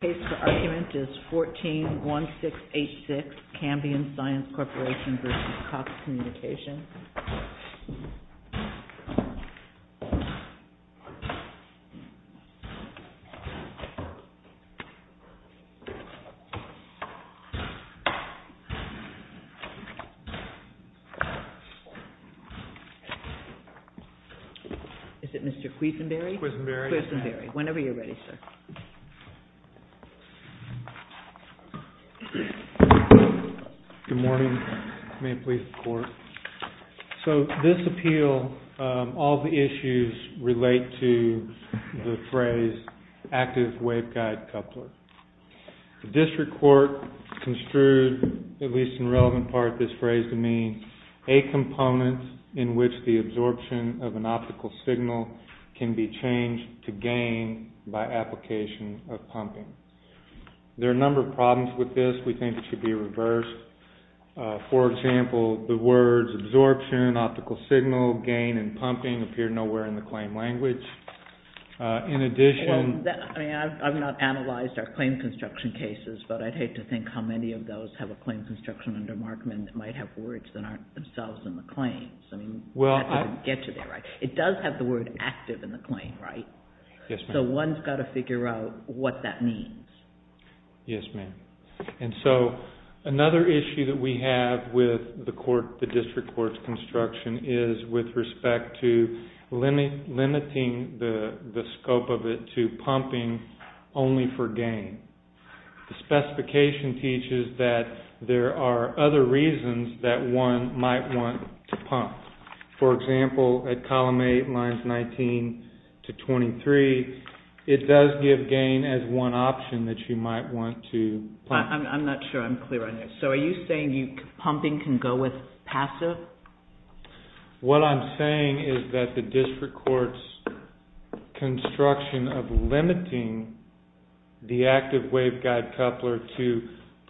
The case for argument is 14-1686 Cambrian Science Corporation v. Cox Communications. The case for argument is 14-1686 Cambrian Science Corporation v. Cox Communications, Inc. So this appeal, all the issues relate to the phrase active waveguide coupler. The district court construed, at least in relevant part, this phrase to mean a component in which the absorption of an optical signal can be changed to gain by application of pumping. There are a number of problems with this. We think it should be reversed. For example, the words absorption, optical signal, gain, and pumping appear nowhere in the claim language. In addition... Well, I mean, I've not analyzed our claim construction cases, but I'd hate to think how many of those have a claim construction under Markman that might have words that aren't themselves in the claims. I mean, that doesn't get to the right. It does have the word active in the claim, right? Yes, ma'am. So one's got to figure out what that means. Yes, ma'am. And so another issue that we have with the district court's construction is with respect to limiting the scope of it to pumping only for gain. The specification teaches that there are other reasons that one might want to pump. For example, at column 8, lines 19 to 23, it does give gain as one option that you might want to pump. I'm not sure I'm clear on this. So are you saying pumping can go with passive? What I'm saying is that the district court's construction of limiting the active waveguide coupler to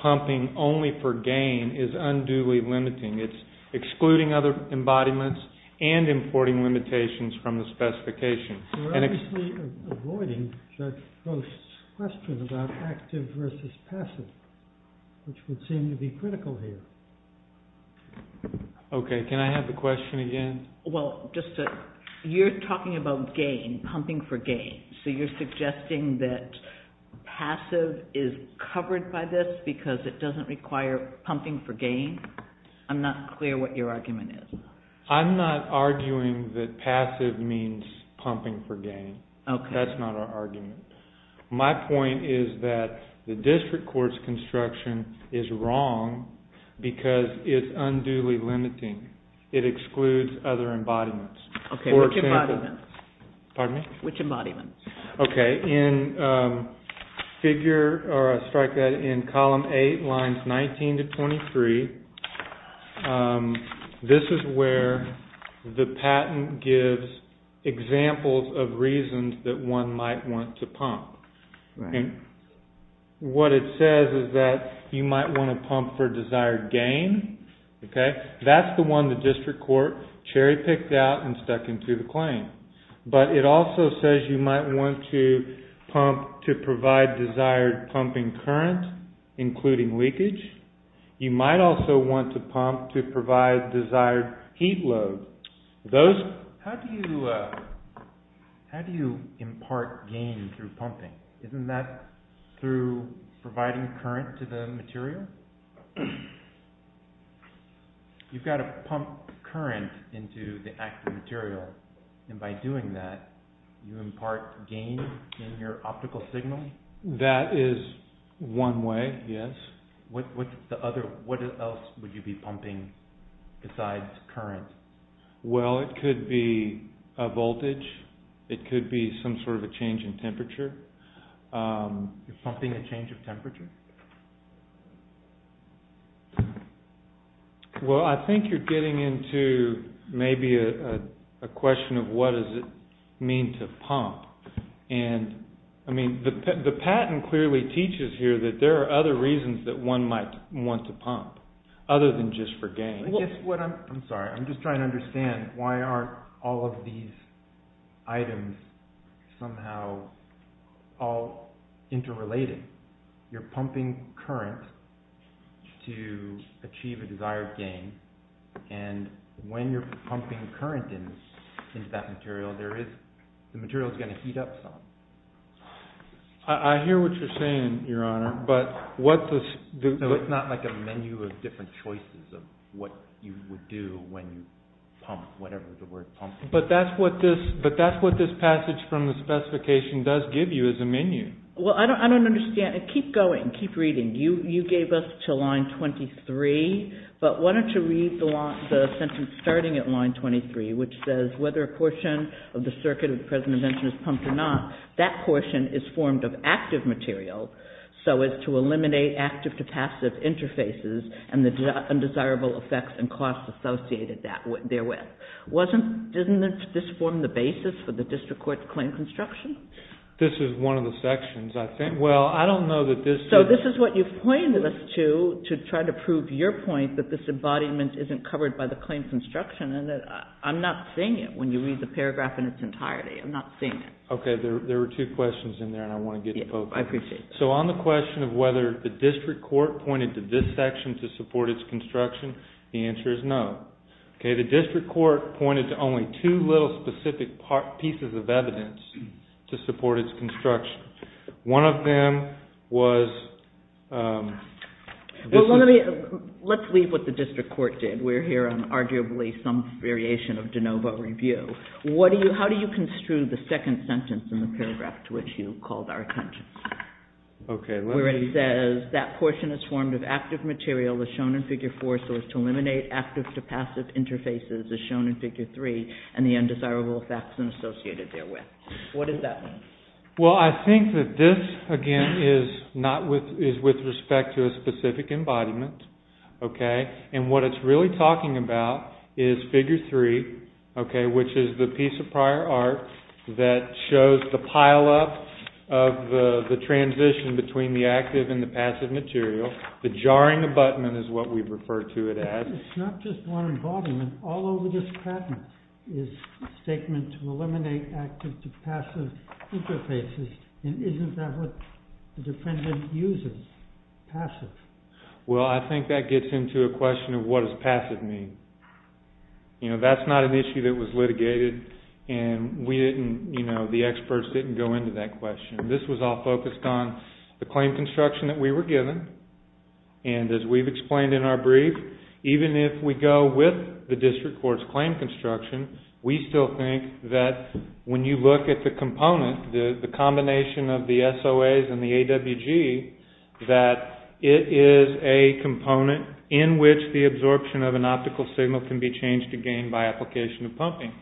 pumping only for gain is unduly limiting. It's excluding other embodiments and importing limitations from the specification. We're obviously avoiding Judge Post's question about active versus passive, which would seem to be critical here. Okay. Can I have the question again? Well, you're talking about gain, pumping for gain, so you're suggesting that passive is covered by this because it doesn't require pumping for gain? I'm not clear what your argument is. I'm not arguing that passive means pumping for gain. Okay. That's not our argument. My point is that the district court's construction is wrong because it's unduly limiting. It excludes other embodiments. Okay, which embodiments? Pardon me? Which embodiments? Okay, in figure, or I'll strike that in column 8, lines 19 to 23, this is where the patent gives examples of reasons that one might want to pump. Right. And what it says is that you might want to pump for desired gain. Okay? That's the one the district court cherry picked out and stuck into the claim. But it also says you might want to pump to provide desired pumping current, including leakage. You might also want to pump to provide desired heat load. How do you impart gain through pumping? Isn't that through providing current to the material? You've got to pump current into the active material, and by doing that, you impart gain in your optical signal? That is one way, yes. What else would you be pumping besides current? Well, it could be a voltage. It could be some sort of a change in temperature. You're pumping a change of temperature? Well, I think you're getting into maybe a question of what does it mean to pump. And, I mean, the patent clearly teaches here that there are other reasons that one might want to pump, other than just for gain. I'm sorry. I'm just trying to understand why aren't all of these items somehow all interrelated? Let's say you're pumping current to achieve a desired gain, and when you're pumping current into that material, the material is going to heat up some. I hear what you're saying, Your Honor, but what the— No, it's not like a menu of different choices of what you would do when you pump, whatever the word pump is. But that's what this passage from the specification does give you, is a menu. Well, I don't understand. Keep going. Keep reading. You gave us to line 23, but why don't you read the sentence starting at line 23, which says, whether a portion of the circuit of the present invention is pumped or not, that portion is formed of active material, so as to eliminate active to passive interfaces and the undesirable effects and costs associated therewith. Doesn't this form the basis for the district court's claim construction? This is one of the sections, I think. Well, I don't know that this— So this is what you've pointed us to, to try to prove your point that this embodiment isn't covered by the claim construction. I'm not seeing it when you read the paragraph in its entirety. I'm not seeing it. Okay. There were two questions in there, and I want to get to both of them. I appreciate it. So on the question of whether the district court pointed to this section to support its construction, the answer is no. Okay, the district court pointed to only two little specific pieces of evidence to support its construction. One of them was— Well, let's leave what the district court did. We're here on arguably some variation of de novo review. How do you construe the second sentence in the paragraph to which you called our attention? Okay, let's— What does that mean? Well, I think that this, again, is not with—is with respect to a specific embodiment, okay? And what it's really talking about is figure three, okay, which is the piece of prior art that shows the pileup of the transition between the active and the passive material. The jarring abutment is what we refer to it as. It's not just one embodiment. All over this patent is a statement to eliminate active to passive interfaces, and isn't that what the defendant uses, passive? Well, I think that gets into a question of what does passive mean. You know, that's not an issue that was litigated, and we didn't—you know, the experts didn't go into that question. This was all focused on the claim construction that we were given. And as we've explained in our brief, even if we go with the district court's claim construction, we still think that when you look at the component, the combination of the SOAs and the AWG, that it is a component in which the absorption of an optical signal can be changed again by application of pumping.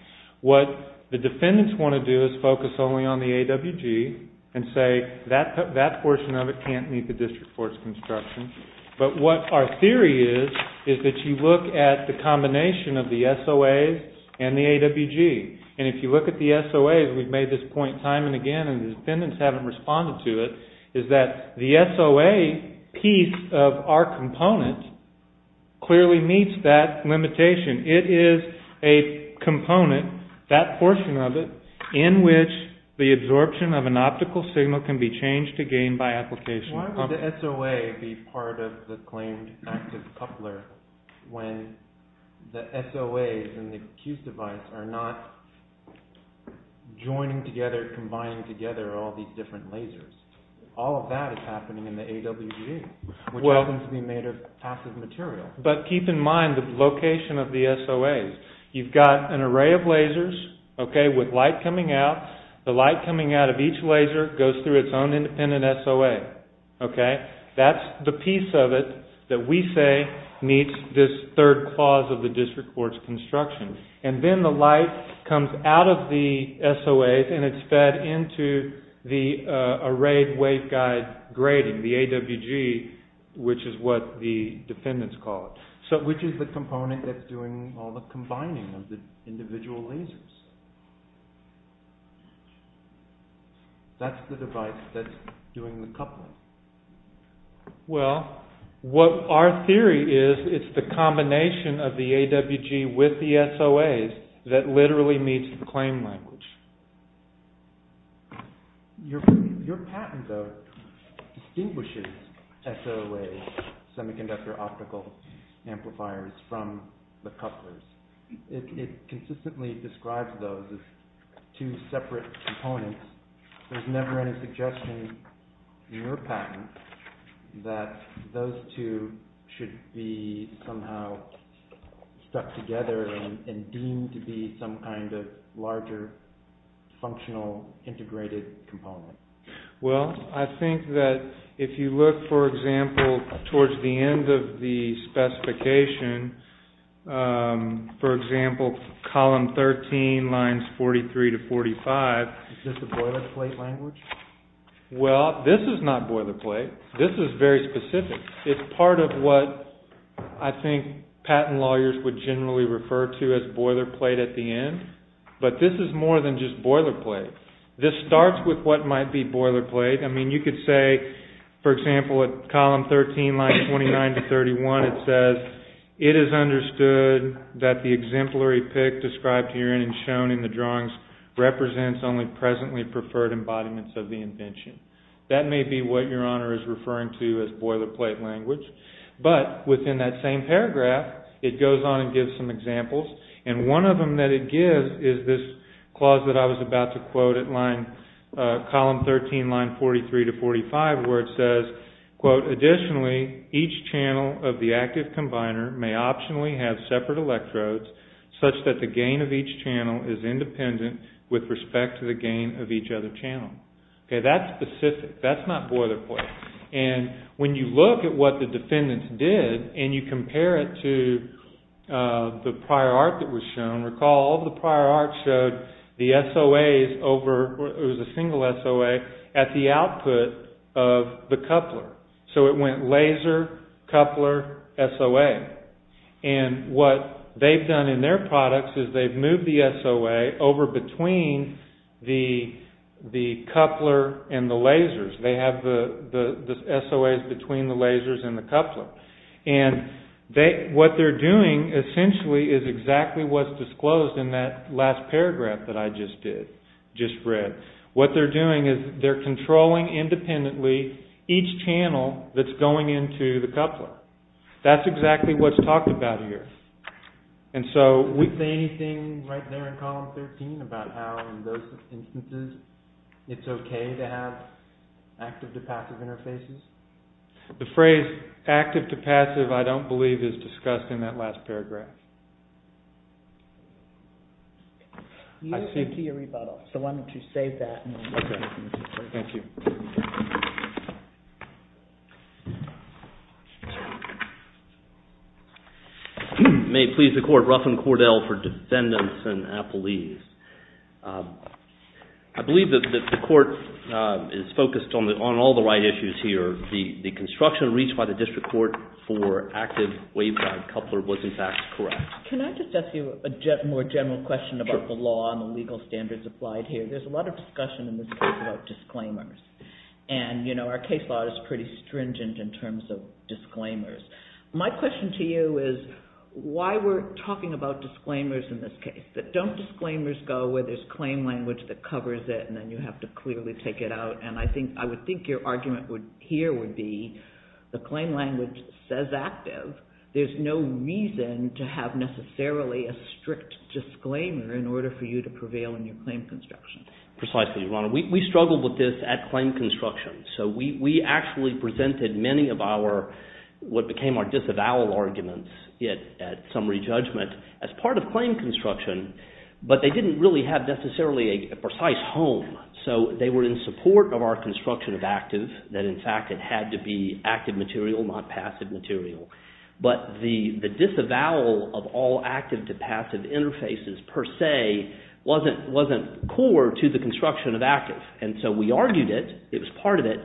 What the defendants want to do is focus only on the AWG and say that portion of it can't meet the district court's construction. But what our theory is is that you look at the combination of the SOAs and the AWG. And if you look at the SOAs, we've made this point time and again, and the defendants haven't responded to it, is that the SOA piece of our component clearly meets that limitation. It is a component, that portion of it, in which the absorption of an optical signal can be changed again by application of pumping. Why would the SOA be part of the claimed active coupler when the SOAs and the Q's device are not joining together, combining together all these different lasers? All of that is happening in the AWG, which happens to be made of passive material. But keep in mind the location of the SOAs. You've got an array of lasers with light coming out. The light coming out of each laser goes through its own independent SOA. That's the piece of it that we say meets this third clause of the district court's construction. And then the light comes out of the SOAs and it's fed into the arrayed waveguide grading, the AWG, which is what the defendants call it. Which is the component that's doing all the combining of the individual lasers? That's the device that's doing the coupling. Well, what our theory is, it's the combination of the AWG with the SOAs that literally meets the claim language. Your patent, though, distinguishes SOAs, semiconductor optical amplifiers, from the couplers. It consistently describes those as two separate components. There's never any suggestion in your patent that those two should be somehow stuck together and deemed to be some kind of larger, functional, integrated component. Well, I think that if you look, for example, towards the end of the specification, for example, column 13, lines 43 to 45. Is this a boilerplate language? Well, this is not boilerplate. This is very specific. It's part of what I think patent lawyers would generally refer to as boilerplate at the end. But this is more than just boilerplate. This starts with what might be boilerplate. I mean, you could say, for example, at column 13, lines 29 to 31, it says, it is understood that the exemplary pick described herein and shown in the drawings represents only presently preferred embodiments of the invention. That may be what your honor is referring to as boilerplate language. But within that same paragraph, it goes on and gives some examples. And one of them that it gives is this clause that I was about to quote at line, column 13, line 43 to 45, where it says, Additionally, each channel of the active combiner may optionally have separate electrodes such that the gain of each channel is independent with respect to the gain of each other channel. That's specific. That's not boilerplate. And when you look at what the defendants did and you compare it to the prior art that was shown, recall all the prior art showed the SOAs over, it was a single SOA, at the output of the coupler. So it went laser, coupler, SOA. And what they've done in their products is they've moved the SOA over between the coupler and the lasers. They have the SOAs between the lasers and the coupler. And what they're doing essentially is exactly what's disclosed in that last paragraph that I just read. What they're doing is they're controlling independently each channel that's going into the coupler. That's exactly what's talked about here. Anything right there in column 13 about how in those instances it's okay to have active to passive interfaces? The phrase active to passive, I don't believe, is discussed in that last paragraph. You have a key rebuttal, so why don't you save that. Okay. Thank you. May it please the Court, Ruffin Cordell for defendants and appellees. I believe that the Court is focused on all the right issues here. The construction reached by the District Court for active waveguide coupler was in fact correct. Can I just ask you a more general question about the law and the legal standards applied here? There's a lot of discussion in this case about disclaimers. Our case law is pretty stringent in terms of disclaimers. My question to you is why we're talking about disclaimers in this case. Don't disclaimers go where there's claim language that covers it and then you have to clearly take it out? I would think your argument here would be the claim language says active. There's no reason to have necessarily a strict disclaimer in order for you to prevail in your claim construction. Precisely, Your Honor. We struggled with this at claim construction. So we actually presented many of what became our disavowal arguments at summary judgment as part of claim construction. But they didn't really have necessarily a precise home. So they were in support of our construction of active, that in fact it had to be active material, not passive material. But the disavowal of all active to passive interfaces per se wasn't core to the construction of active. And so we argued it. It was part of it.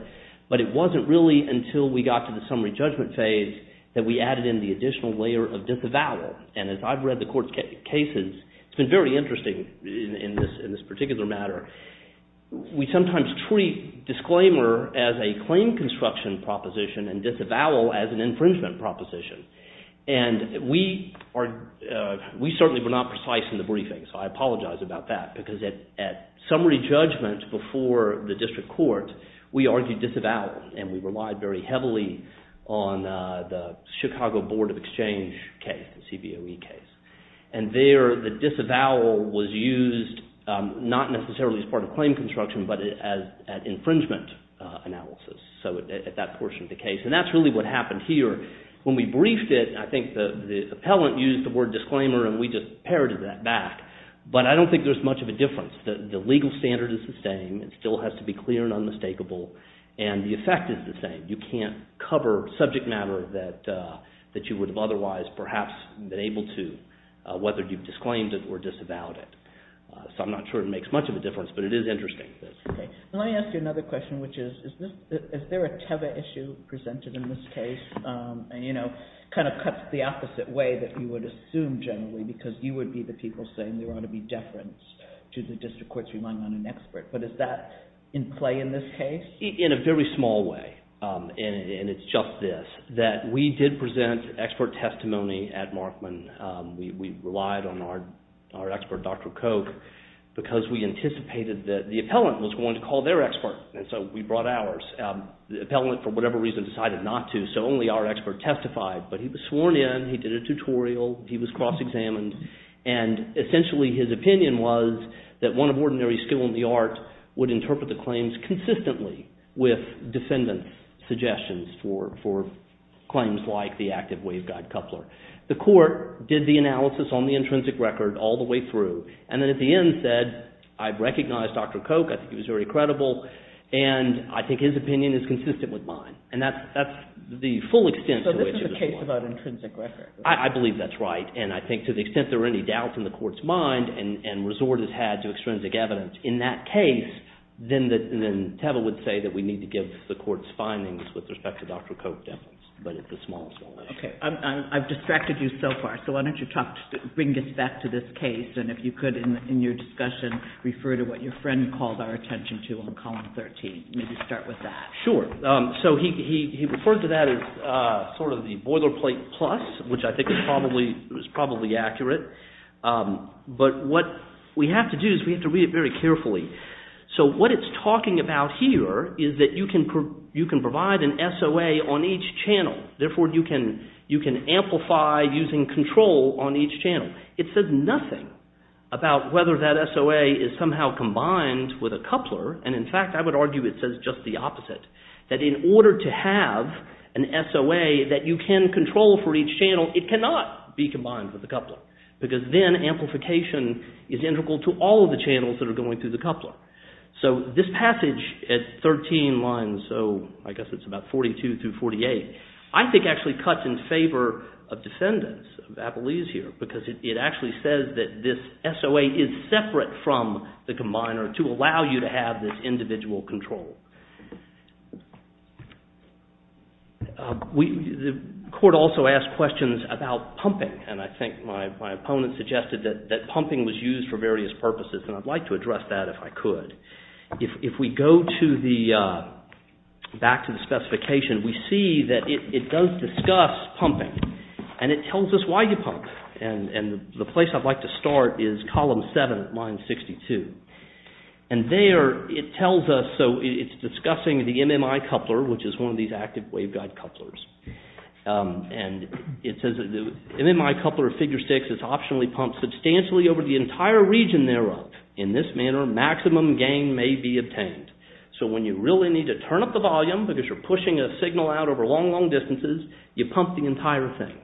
But it wasn't really until we got to the summary judgment phase that we added in the additional layer of disavowal. And as I've read the Court's cases, it's been very interesting in this particular matter. We sometimes treat disclaimer as a claim construction proposition and disavowal as an infringement proposition. And we certainly were not precise in the briefing, so I apologize about that. Because at summary judgment before the district court, we argued disavowal. And we relied very heavily on the Chicago Board of Exchange case, the CBOE case. And there the disavowal was used not necessarily as part of claim construction, but as an infringement analysis. So at that portion of the case. And that's really what happened here. When we briefed it, I think the appellant used the word disclaimer and we just parroted that back. But I don't think there's much of a difference. The legal standard is the same. It still has to be clear and unmistakable. And the effect is the same. You can't cover subject matter that you would have otherwise perhaps been able to, whether you've disclaimed it or disavowed it. So I'm not sure it makes much of a difference, but it is interesting. Let me ask you another question, which is, is there a Teva issue presented in this case? And, you know, kind of cuts the opposite way that you would assume generally, because you would be the people saying there ought to be deference to the district courts relying on an expert. But is that in play in this case? In a very small way, and it's just this, that we did present expert testimony at Markman. We relied on our expert, Dr. Koch, because we anticipated that the appellant was going to call their expert, and so we brought ours. The appellant, for whatever reason, decided not to, so only our expert testified. But he was sworn in. He did a tutorial. He was cross-examined. And essentially his opinion was that one of ordinary skill in the art would interpret the claims consistently with defendant suggestions for claims like the active waveguide coupler. The court did the analysis on the intrinsic record all the way through, and then at the end said, I recognize Dr. Koch, I think he was very credible, and I think his opinion is consistent with mine. And that's the full extent to which it was won. So this is a case about intrinsic record? I believe that's right, and I think to the extent there are any doubts in the court's mind and resort has had to extrinsic evidence in that case, then Teva would say that we need to give the court's findings with respect to Dr. Koch evidence. But it's a small, small issue. Okay. I've distracted you so far, so why don't you talk, bring us back to this case, and if you could, in your discussion, refer to what your friend called our attention to on column 13. Maybe start with that. Sure. So he referred to that as sort of the boilerplate plus, which I think is probably accurate. But what we have to do is we have to read it very carefully. So what it's talking about here is that you can provide an SOA on each channel. Therefore, you can amplify using control on each channel. It says nothing about whether that SOA is somehow combined with a coupler, and in fact I would argue it says just the opposite, that in order to have an SOA that you can control for each channel, it cannot be combined with a coupler, because then amplification is integral to all of the channels that are going through the coupler. So this passage at 13 lines, so I guess it's about 42 through 48, I think actually cuts in favor of defendants, of Applees here, because it actually says that this SOA is separate from the combiner to allow you to have this individual control. The court also asked questions about pumping, and I think my opponent suggested that pumping was used for various purposes, and I'd like to address that if I could. If we go back to the specification, we see that it does discuss pumping, and it tells us why you pump, and the place I'd like to start is column 7, line 62, and there it tells us, so it's discussing the MMI coupler, which is one of these active waveguide couplers, and it says the MMI coupler of figure 6 is optionally pumped substantially over the entire region thereof. In this manner, maximum gain may be obtained. So when you really need to turn up the volume, because you're pushing a signal out over long, long distances, you pump the entire thing.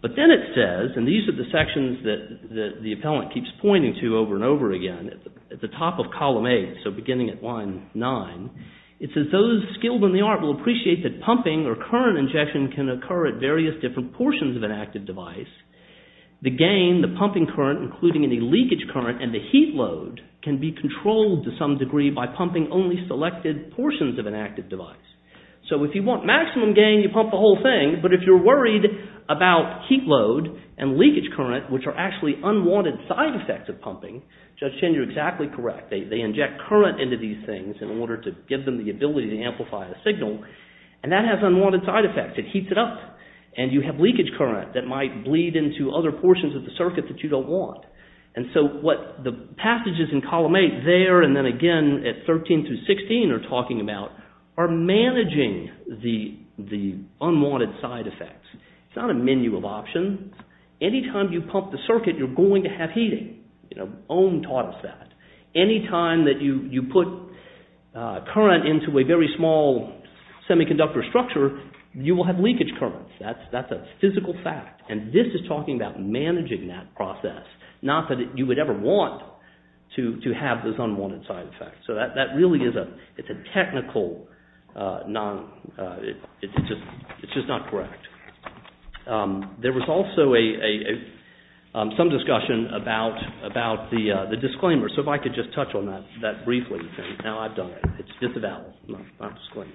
But then it says, and these are the sections that the appellant keeps pointing to over and over again, at the top of column 8, so beginning at line 9, it says those skilled in the art will appreciate that pumping or current injection can occur at various different portions of an active device. The gain, the pumping current, including any leakage current, and the heat load can be controlled to some degree by pumping only selected portions of an active device. So if you want maximum gain, you pump the whole thing, but if you're worried about heat load and leakage current, which are actually unwanted side effects of pumping, Judge Chen, you're exactly correct. They inject current into these things in order to give them the ability to amplify the signal, and that has unwanted side effects. It heats it up, and you have leakage current that might bleed into other portions of the circuit that you don't want. And so what the passages in column 8 there and then again at 13 through 16 are talking about are managing the unwanted side effects. It's not a menu of options. Anytime you pump the circuit, you're going to have heating. Ohm taught us that. Anytime that you put current into a very small semiconductor structure, you will have leakage current. That's a physical fact, and this is talking about managing that process, not that you would ever want to have those unwanted side effects. So that really is a technical, it's just not correct. There was also some discussion about the disclaimer. So if I could just touch on that briefly. Now I've done it. It's disavowed, not disclaimer.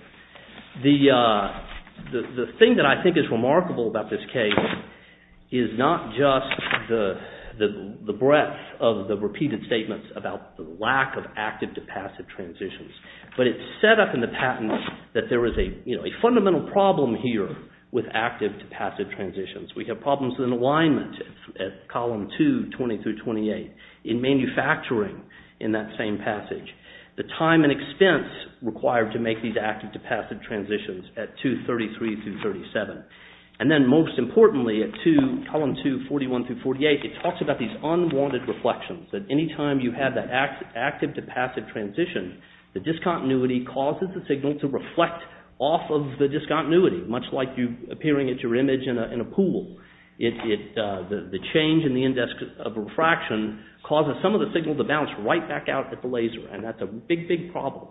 The thing that I think is remarkable about this case is not just the breadth of the repeated statements about the lack of active-to-passive transitions, but it's set up in the patent that there is a fundamental problem here with active-to-passive transitions. We have problems in alignment at column 2, 20 through 28 in manufacturing in that same passage. The time and expense required to make these active-to-passive transitions at 2, 33 through 37, and then most importantly at 2, column 2, 41 through 48, it talks about these unwanted reflections, that any time you have that active-to-passive transition, the discontinuity causes the signal to reflect off of the discontinuity, much like you appearing at your image in a pool. The change in the index of refraction causes some of the signal to bounce right back out at the laser, and that's a big, big problem.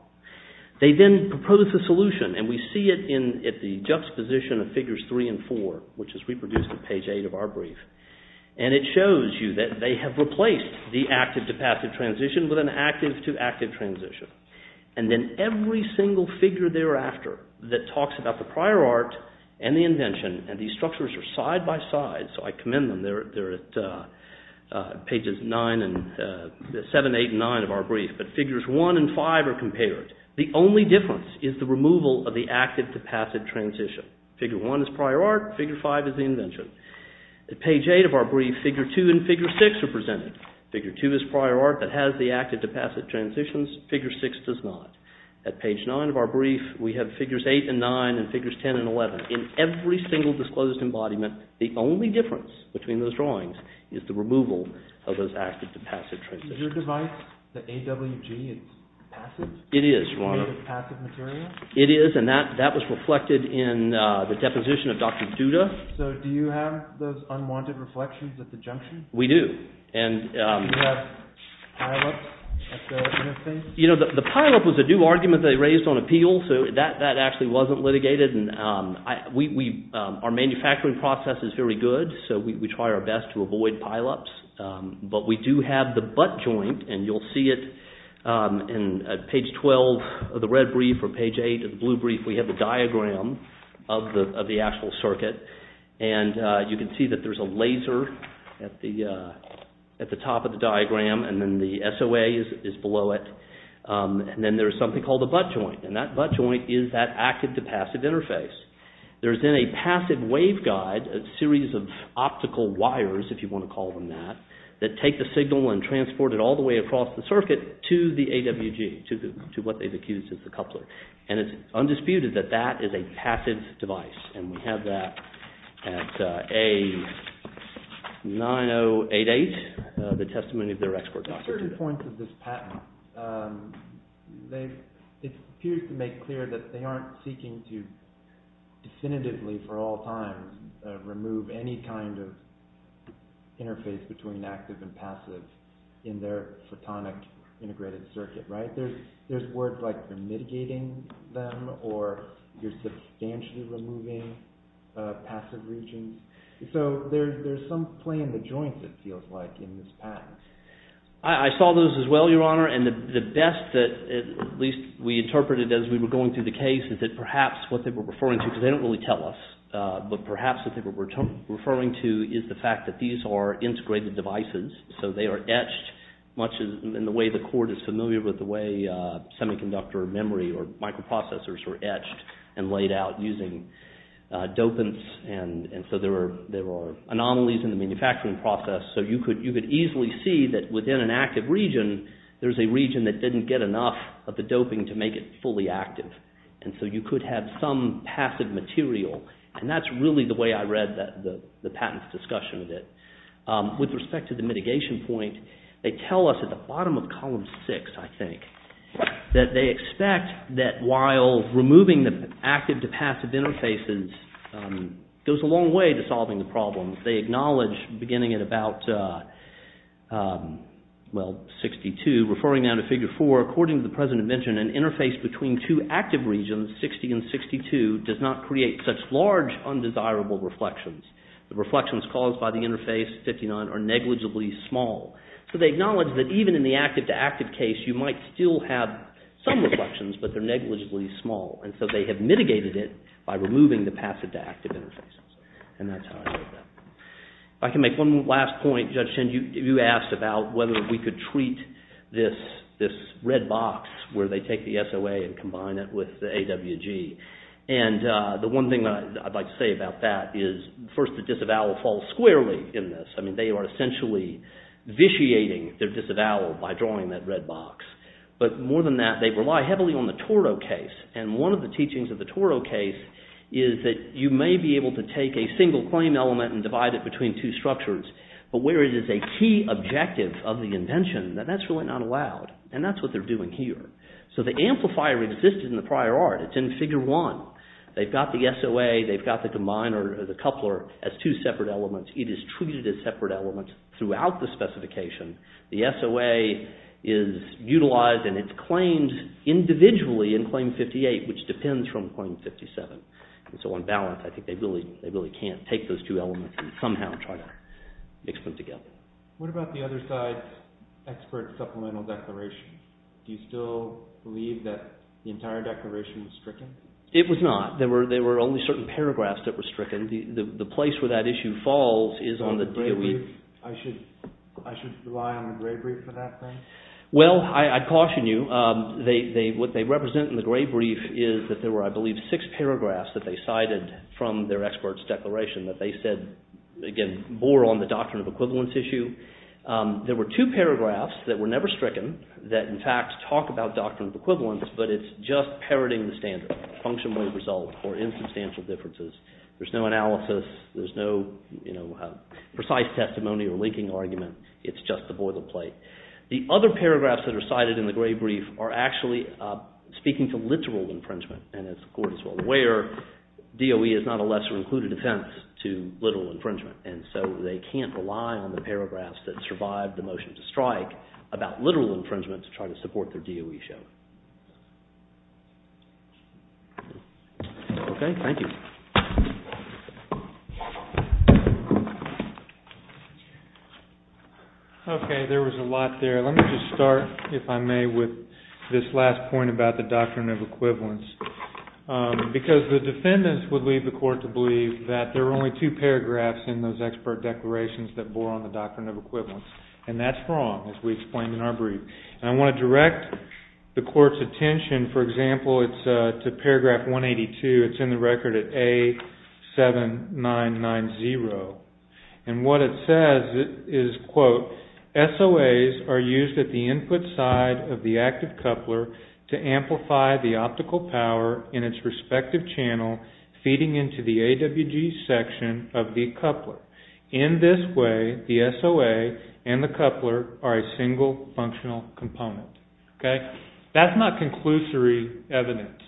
They then propose a solution, and we see it at the juxtaposition of figures 3 and 4, which is reproduced at page 8 of our brief. And it shows you that they have replaced the active-to-passive transition with an active-to-active transition. And then every single figure thereafter that talks about the prior art and the invention, and these structures are side-by-side, so I commend them. They're at pages 7, 8, and 9 of our brief, but figures 1 and 5 are compared. The only difference is the removal of the active-to-passive transition. Figure 1 is prior art, figure 5 is the invention. At page 8 of our brief, figure 2 and figure 6 are presented. Figure 2 is prior art that has the active-to-passive transitions, figure 6 does not. At page 9 of our brief, we have figures 8 and 9 and figures 10 and 11. In every single disclosed embodiment, the only difference between those drawings is the removal of those active-to-passive transitions. Is your device, the AWG, passive? It is, Your Honor. Is it passive material? It is, and that was reflected in the deposition of Dr. Duda. So do you have those unwanted reflections at the junction? We do. Do you have pile-ups at the junction? The pile-up was a new argument they raised on appeal, so that actually wasn't litigated. Our manufacturing process is very good, so we try our best to avoid pile-ups, but we do have the butt joint, and you'll see it at page 12 of the red brief You can see that there's a laser at the top of the diagram, and then the SOA is below it, and then there's something called the butt joint, and that butt joint is that active-to-passive interface. There's then a passive waveguide, a series of optical wires, if you want to call them that, that take the signal and transport it all the way across the circuit to the AWG, to what they've accused is the coupler, and it's undisputed that that is a passive device, and we have that at A9088, the testimony of their export process. At certain points of this patent, it appears to make clear that they aren't seeking to definitively, for all times, remove any kind of interface between active and passive in their photonic integrated circuit, right? There's words like you're mitigating them, or you're substantially removing passive regions, so there's some play in the joints, it feels like, in this patent. I saw those as well, Your Honor, and the best that at least we interpreted as we were going through the case is that perhaps what they were referring to, because they don't really tell us, but perhaps what they were referring to is the fact that these are integrated devices, so they are etched in the way the court is familiar with the way semiconductor memory or microprocessors are etched and laid out using dopants, and so there are anomalies in the manufacturing process, so you could easily see that within an active region, there's a region that didn't get enough of the doping to make it fully active, and so you could have some passive material, and that's really the way I read the patent's discussion of it. With respect to the mitigation point, they tell us at the bottom of column six, I think, that they expect that while removing the active to passive interfaces goes a long way to solving the problem. They acknowledge, beginning at about, well, 62, referring now to figure four, according to the President mentioned, an interface between two active regions, 60 and 62, does not create such large undesirable reflections. The reflections caused by the interface 59 are negligibly small, so they acknowledge that even in the active-to-active case, you might still have some reflections, but they're negligibly small, and so they have mitigated it by removing the passive-to-active interfaces, and that's how I wrote that. If I can make one last point, Judge Shin, you asked about whether we could treat this red box where they take the SOA and combine it with the AWG, and the one thing I'd like to say about that is, first, the disavowal falls squarely in this. I mean, they are essentially vitiating their disavowal by drawing that red box, but more than that, they rely heavily on the Toro case, and one of the teachings of the Toro case is that you may be able to take a single claim element and divide it between two structures, but where it is a key objective of the invention, then that's really not allowed, and that's what they're doing here. So the amplifier existed in the prior art. It's in Figure 1. They've got the SOA, they've got the combined or the coupler as two separate elements. It is treated as separate elements throughout the specification. The SOA is utilized and it's claimed individually in Claim 58, which depends from Claim 57, and so on balance, I think they really can't take those two elements and somehow try to mix them together. What about the other side's expert supplemental declarations? Do you still believe that the entire declaration was stricken? It was not. There were only certain paragraphs that were stricken. The place where that issue falls is on the DOE. I should rely on the Gray Brief for that thing? Well, I caution you. What they represent in the Gray Brief is that there were, I believe, six paragraphs that they cited from their expert's declaration that they said, again, bore on the doctrine of equivalence issue. There were two paragraphs that were never stricken that, in fact, talk about doctrine of equivalence, but it's just parroting the standard, function, way, result, or insubstantial differences. There's no analysis. There's no precise testimony or linking argument. It's just the boilerplate. The other paragraphs that are cited in the Gray Brief are actually speaking to literal infringement, and as the Court is well aware, DOE is not a lesser included offense to literal infringement, and so they can't rely on the paragraphs that survived the motion to strike about literal infringement to try to support their DOE show. Okay, thank you. Okay, there was a lot there. Let me just start, if I may, with this last point about the doctrine of equivalence, because the defendants would leave the Court to believe that there were only two paragraphs in those expert declarations that bore on the doctrine of equivalence, and that's wrong, as we explained in our brief. I want to direct the Court's attention, for example, to paragraph 182. It's in the record at A7990, and what it says is, quote, SOAs are used at the input side of the active coupler to amplify the optical power in its respective channel feeding into the AWG section of the coupler. In this way, the SOA and the coupler are a single functional component. That's not conclusory evidence.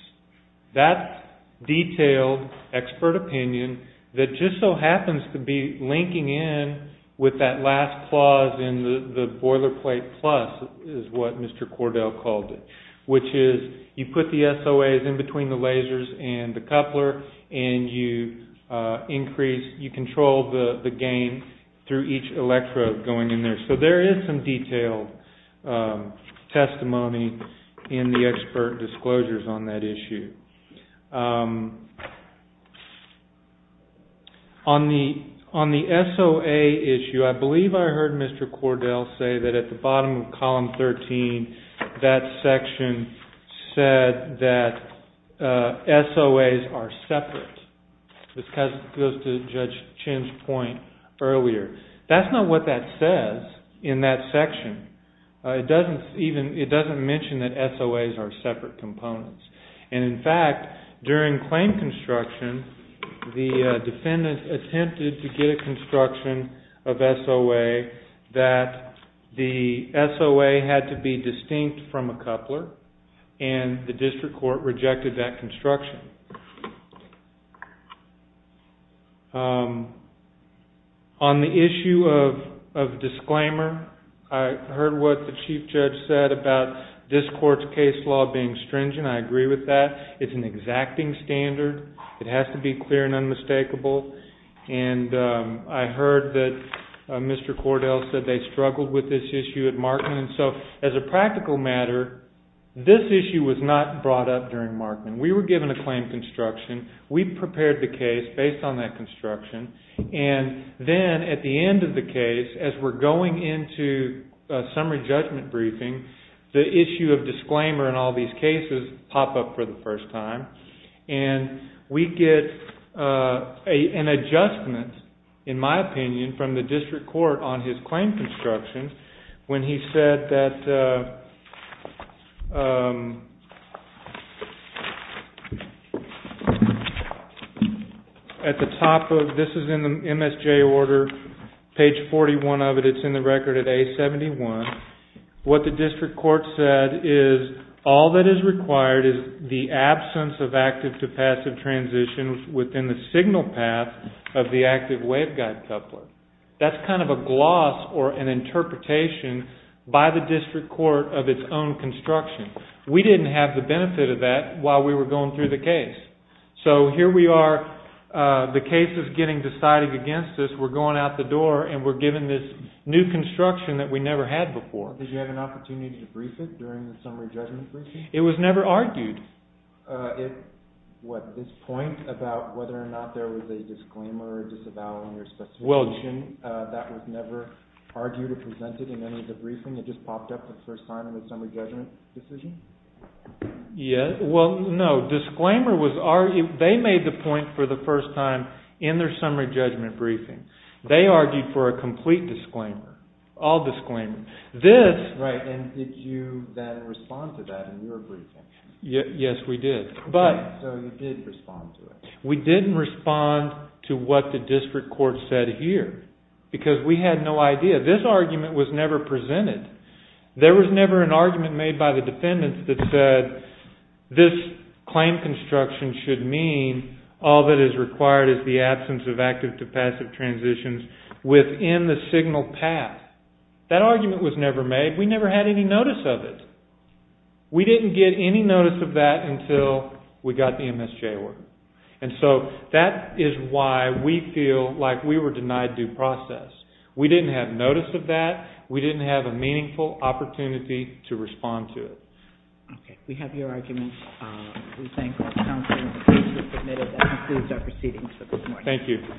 That's detailed expert opinion that just so happens to be linking in with that last clause in the boilerplate plus, is what Mr. Cordell called it, which is you put the SOAs in between the lasers and the coupler, and you control the gain through each electrode going in there. So there is some detailed testimony in the expert disclosures on that issue. On the SOA issue, I believe I heard Mr. Cordell say that at the bottom of column 13, that section said that SOAs are separate. This goes to Judge Chin's point earlier. That's not what that says in that section. It doesn't mention that SOAs are separate components. In fact, during claim construction, the defendant attempted to get a construction of SOA that the SOA had to be distinct from a coupler, and the district court rejected that construction. On the issue of disclaimer, I heard what the chief judge said about this court's case law being stringent. I agree with that. It's an exacting standard. It has to be clear and unmistakable. And I heard that Mr. Cordell said they struggled with this issue at Markman. So as a practical matter, this issue was not brought up during Markman. We were given a claim construction. We prepared the case based on that construction. And then at the end of the case, as we're going into summary judgment briefing, the issue of disclaimer in all these cases pop up for the first time. And we get an adjustment, in my opinion, from the district court on his claim construction when he said that at the top of this is in the MSJ order, page 41 of it. It's in the record at A71. What the district court said is all that is required is the absence of active to passive transition within the signal path of the active waveguide coupler. That's kind of a gloss or an interpretation by the district court of its own construction. We didn't have the benefit of that while we were going through the case. So here we are. The case is getting decided against us. We're going out the door, and we're given this new construction that we never had before. Did you have an opportunity to brief it during the summary judgment briefing? It was never argued. What, this point about whether or not there was a disclaimer or disavowal in your specification, that was never argued or presented in any of the briefings? It just popped up the first time in the summary judgment decision? Well, no, disclaimer was argued. They made the point for the first time in their summary judgment briefing. They argued for a complete disclaimer, all disclaimer. Right, and did you then respond to that in your briefing? Yes, we did. So you did respond to it. We didn't respond to what the district court said here because we had no idea. This argument was never presented. There was never an argument made by the defendants that said this claim construction should mean all that is required is the absence of active to passive transitions within the signal path. That argument was never made. We never had any notice of it. We didn't get any notice of that until we got the MSJ work. And so that is why we feel like we were denied due process. We didn't have notice of that. We didn't have a meaningful opportunity to respond to it. Okay. We have your arguments. We thank our counsel. The case is admitted. That concludes our proceedings for this morning. Thank you.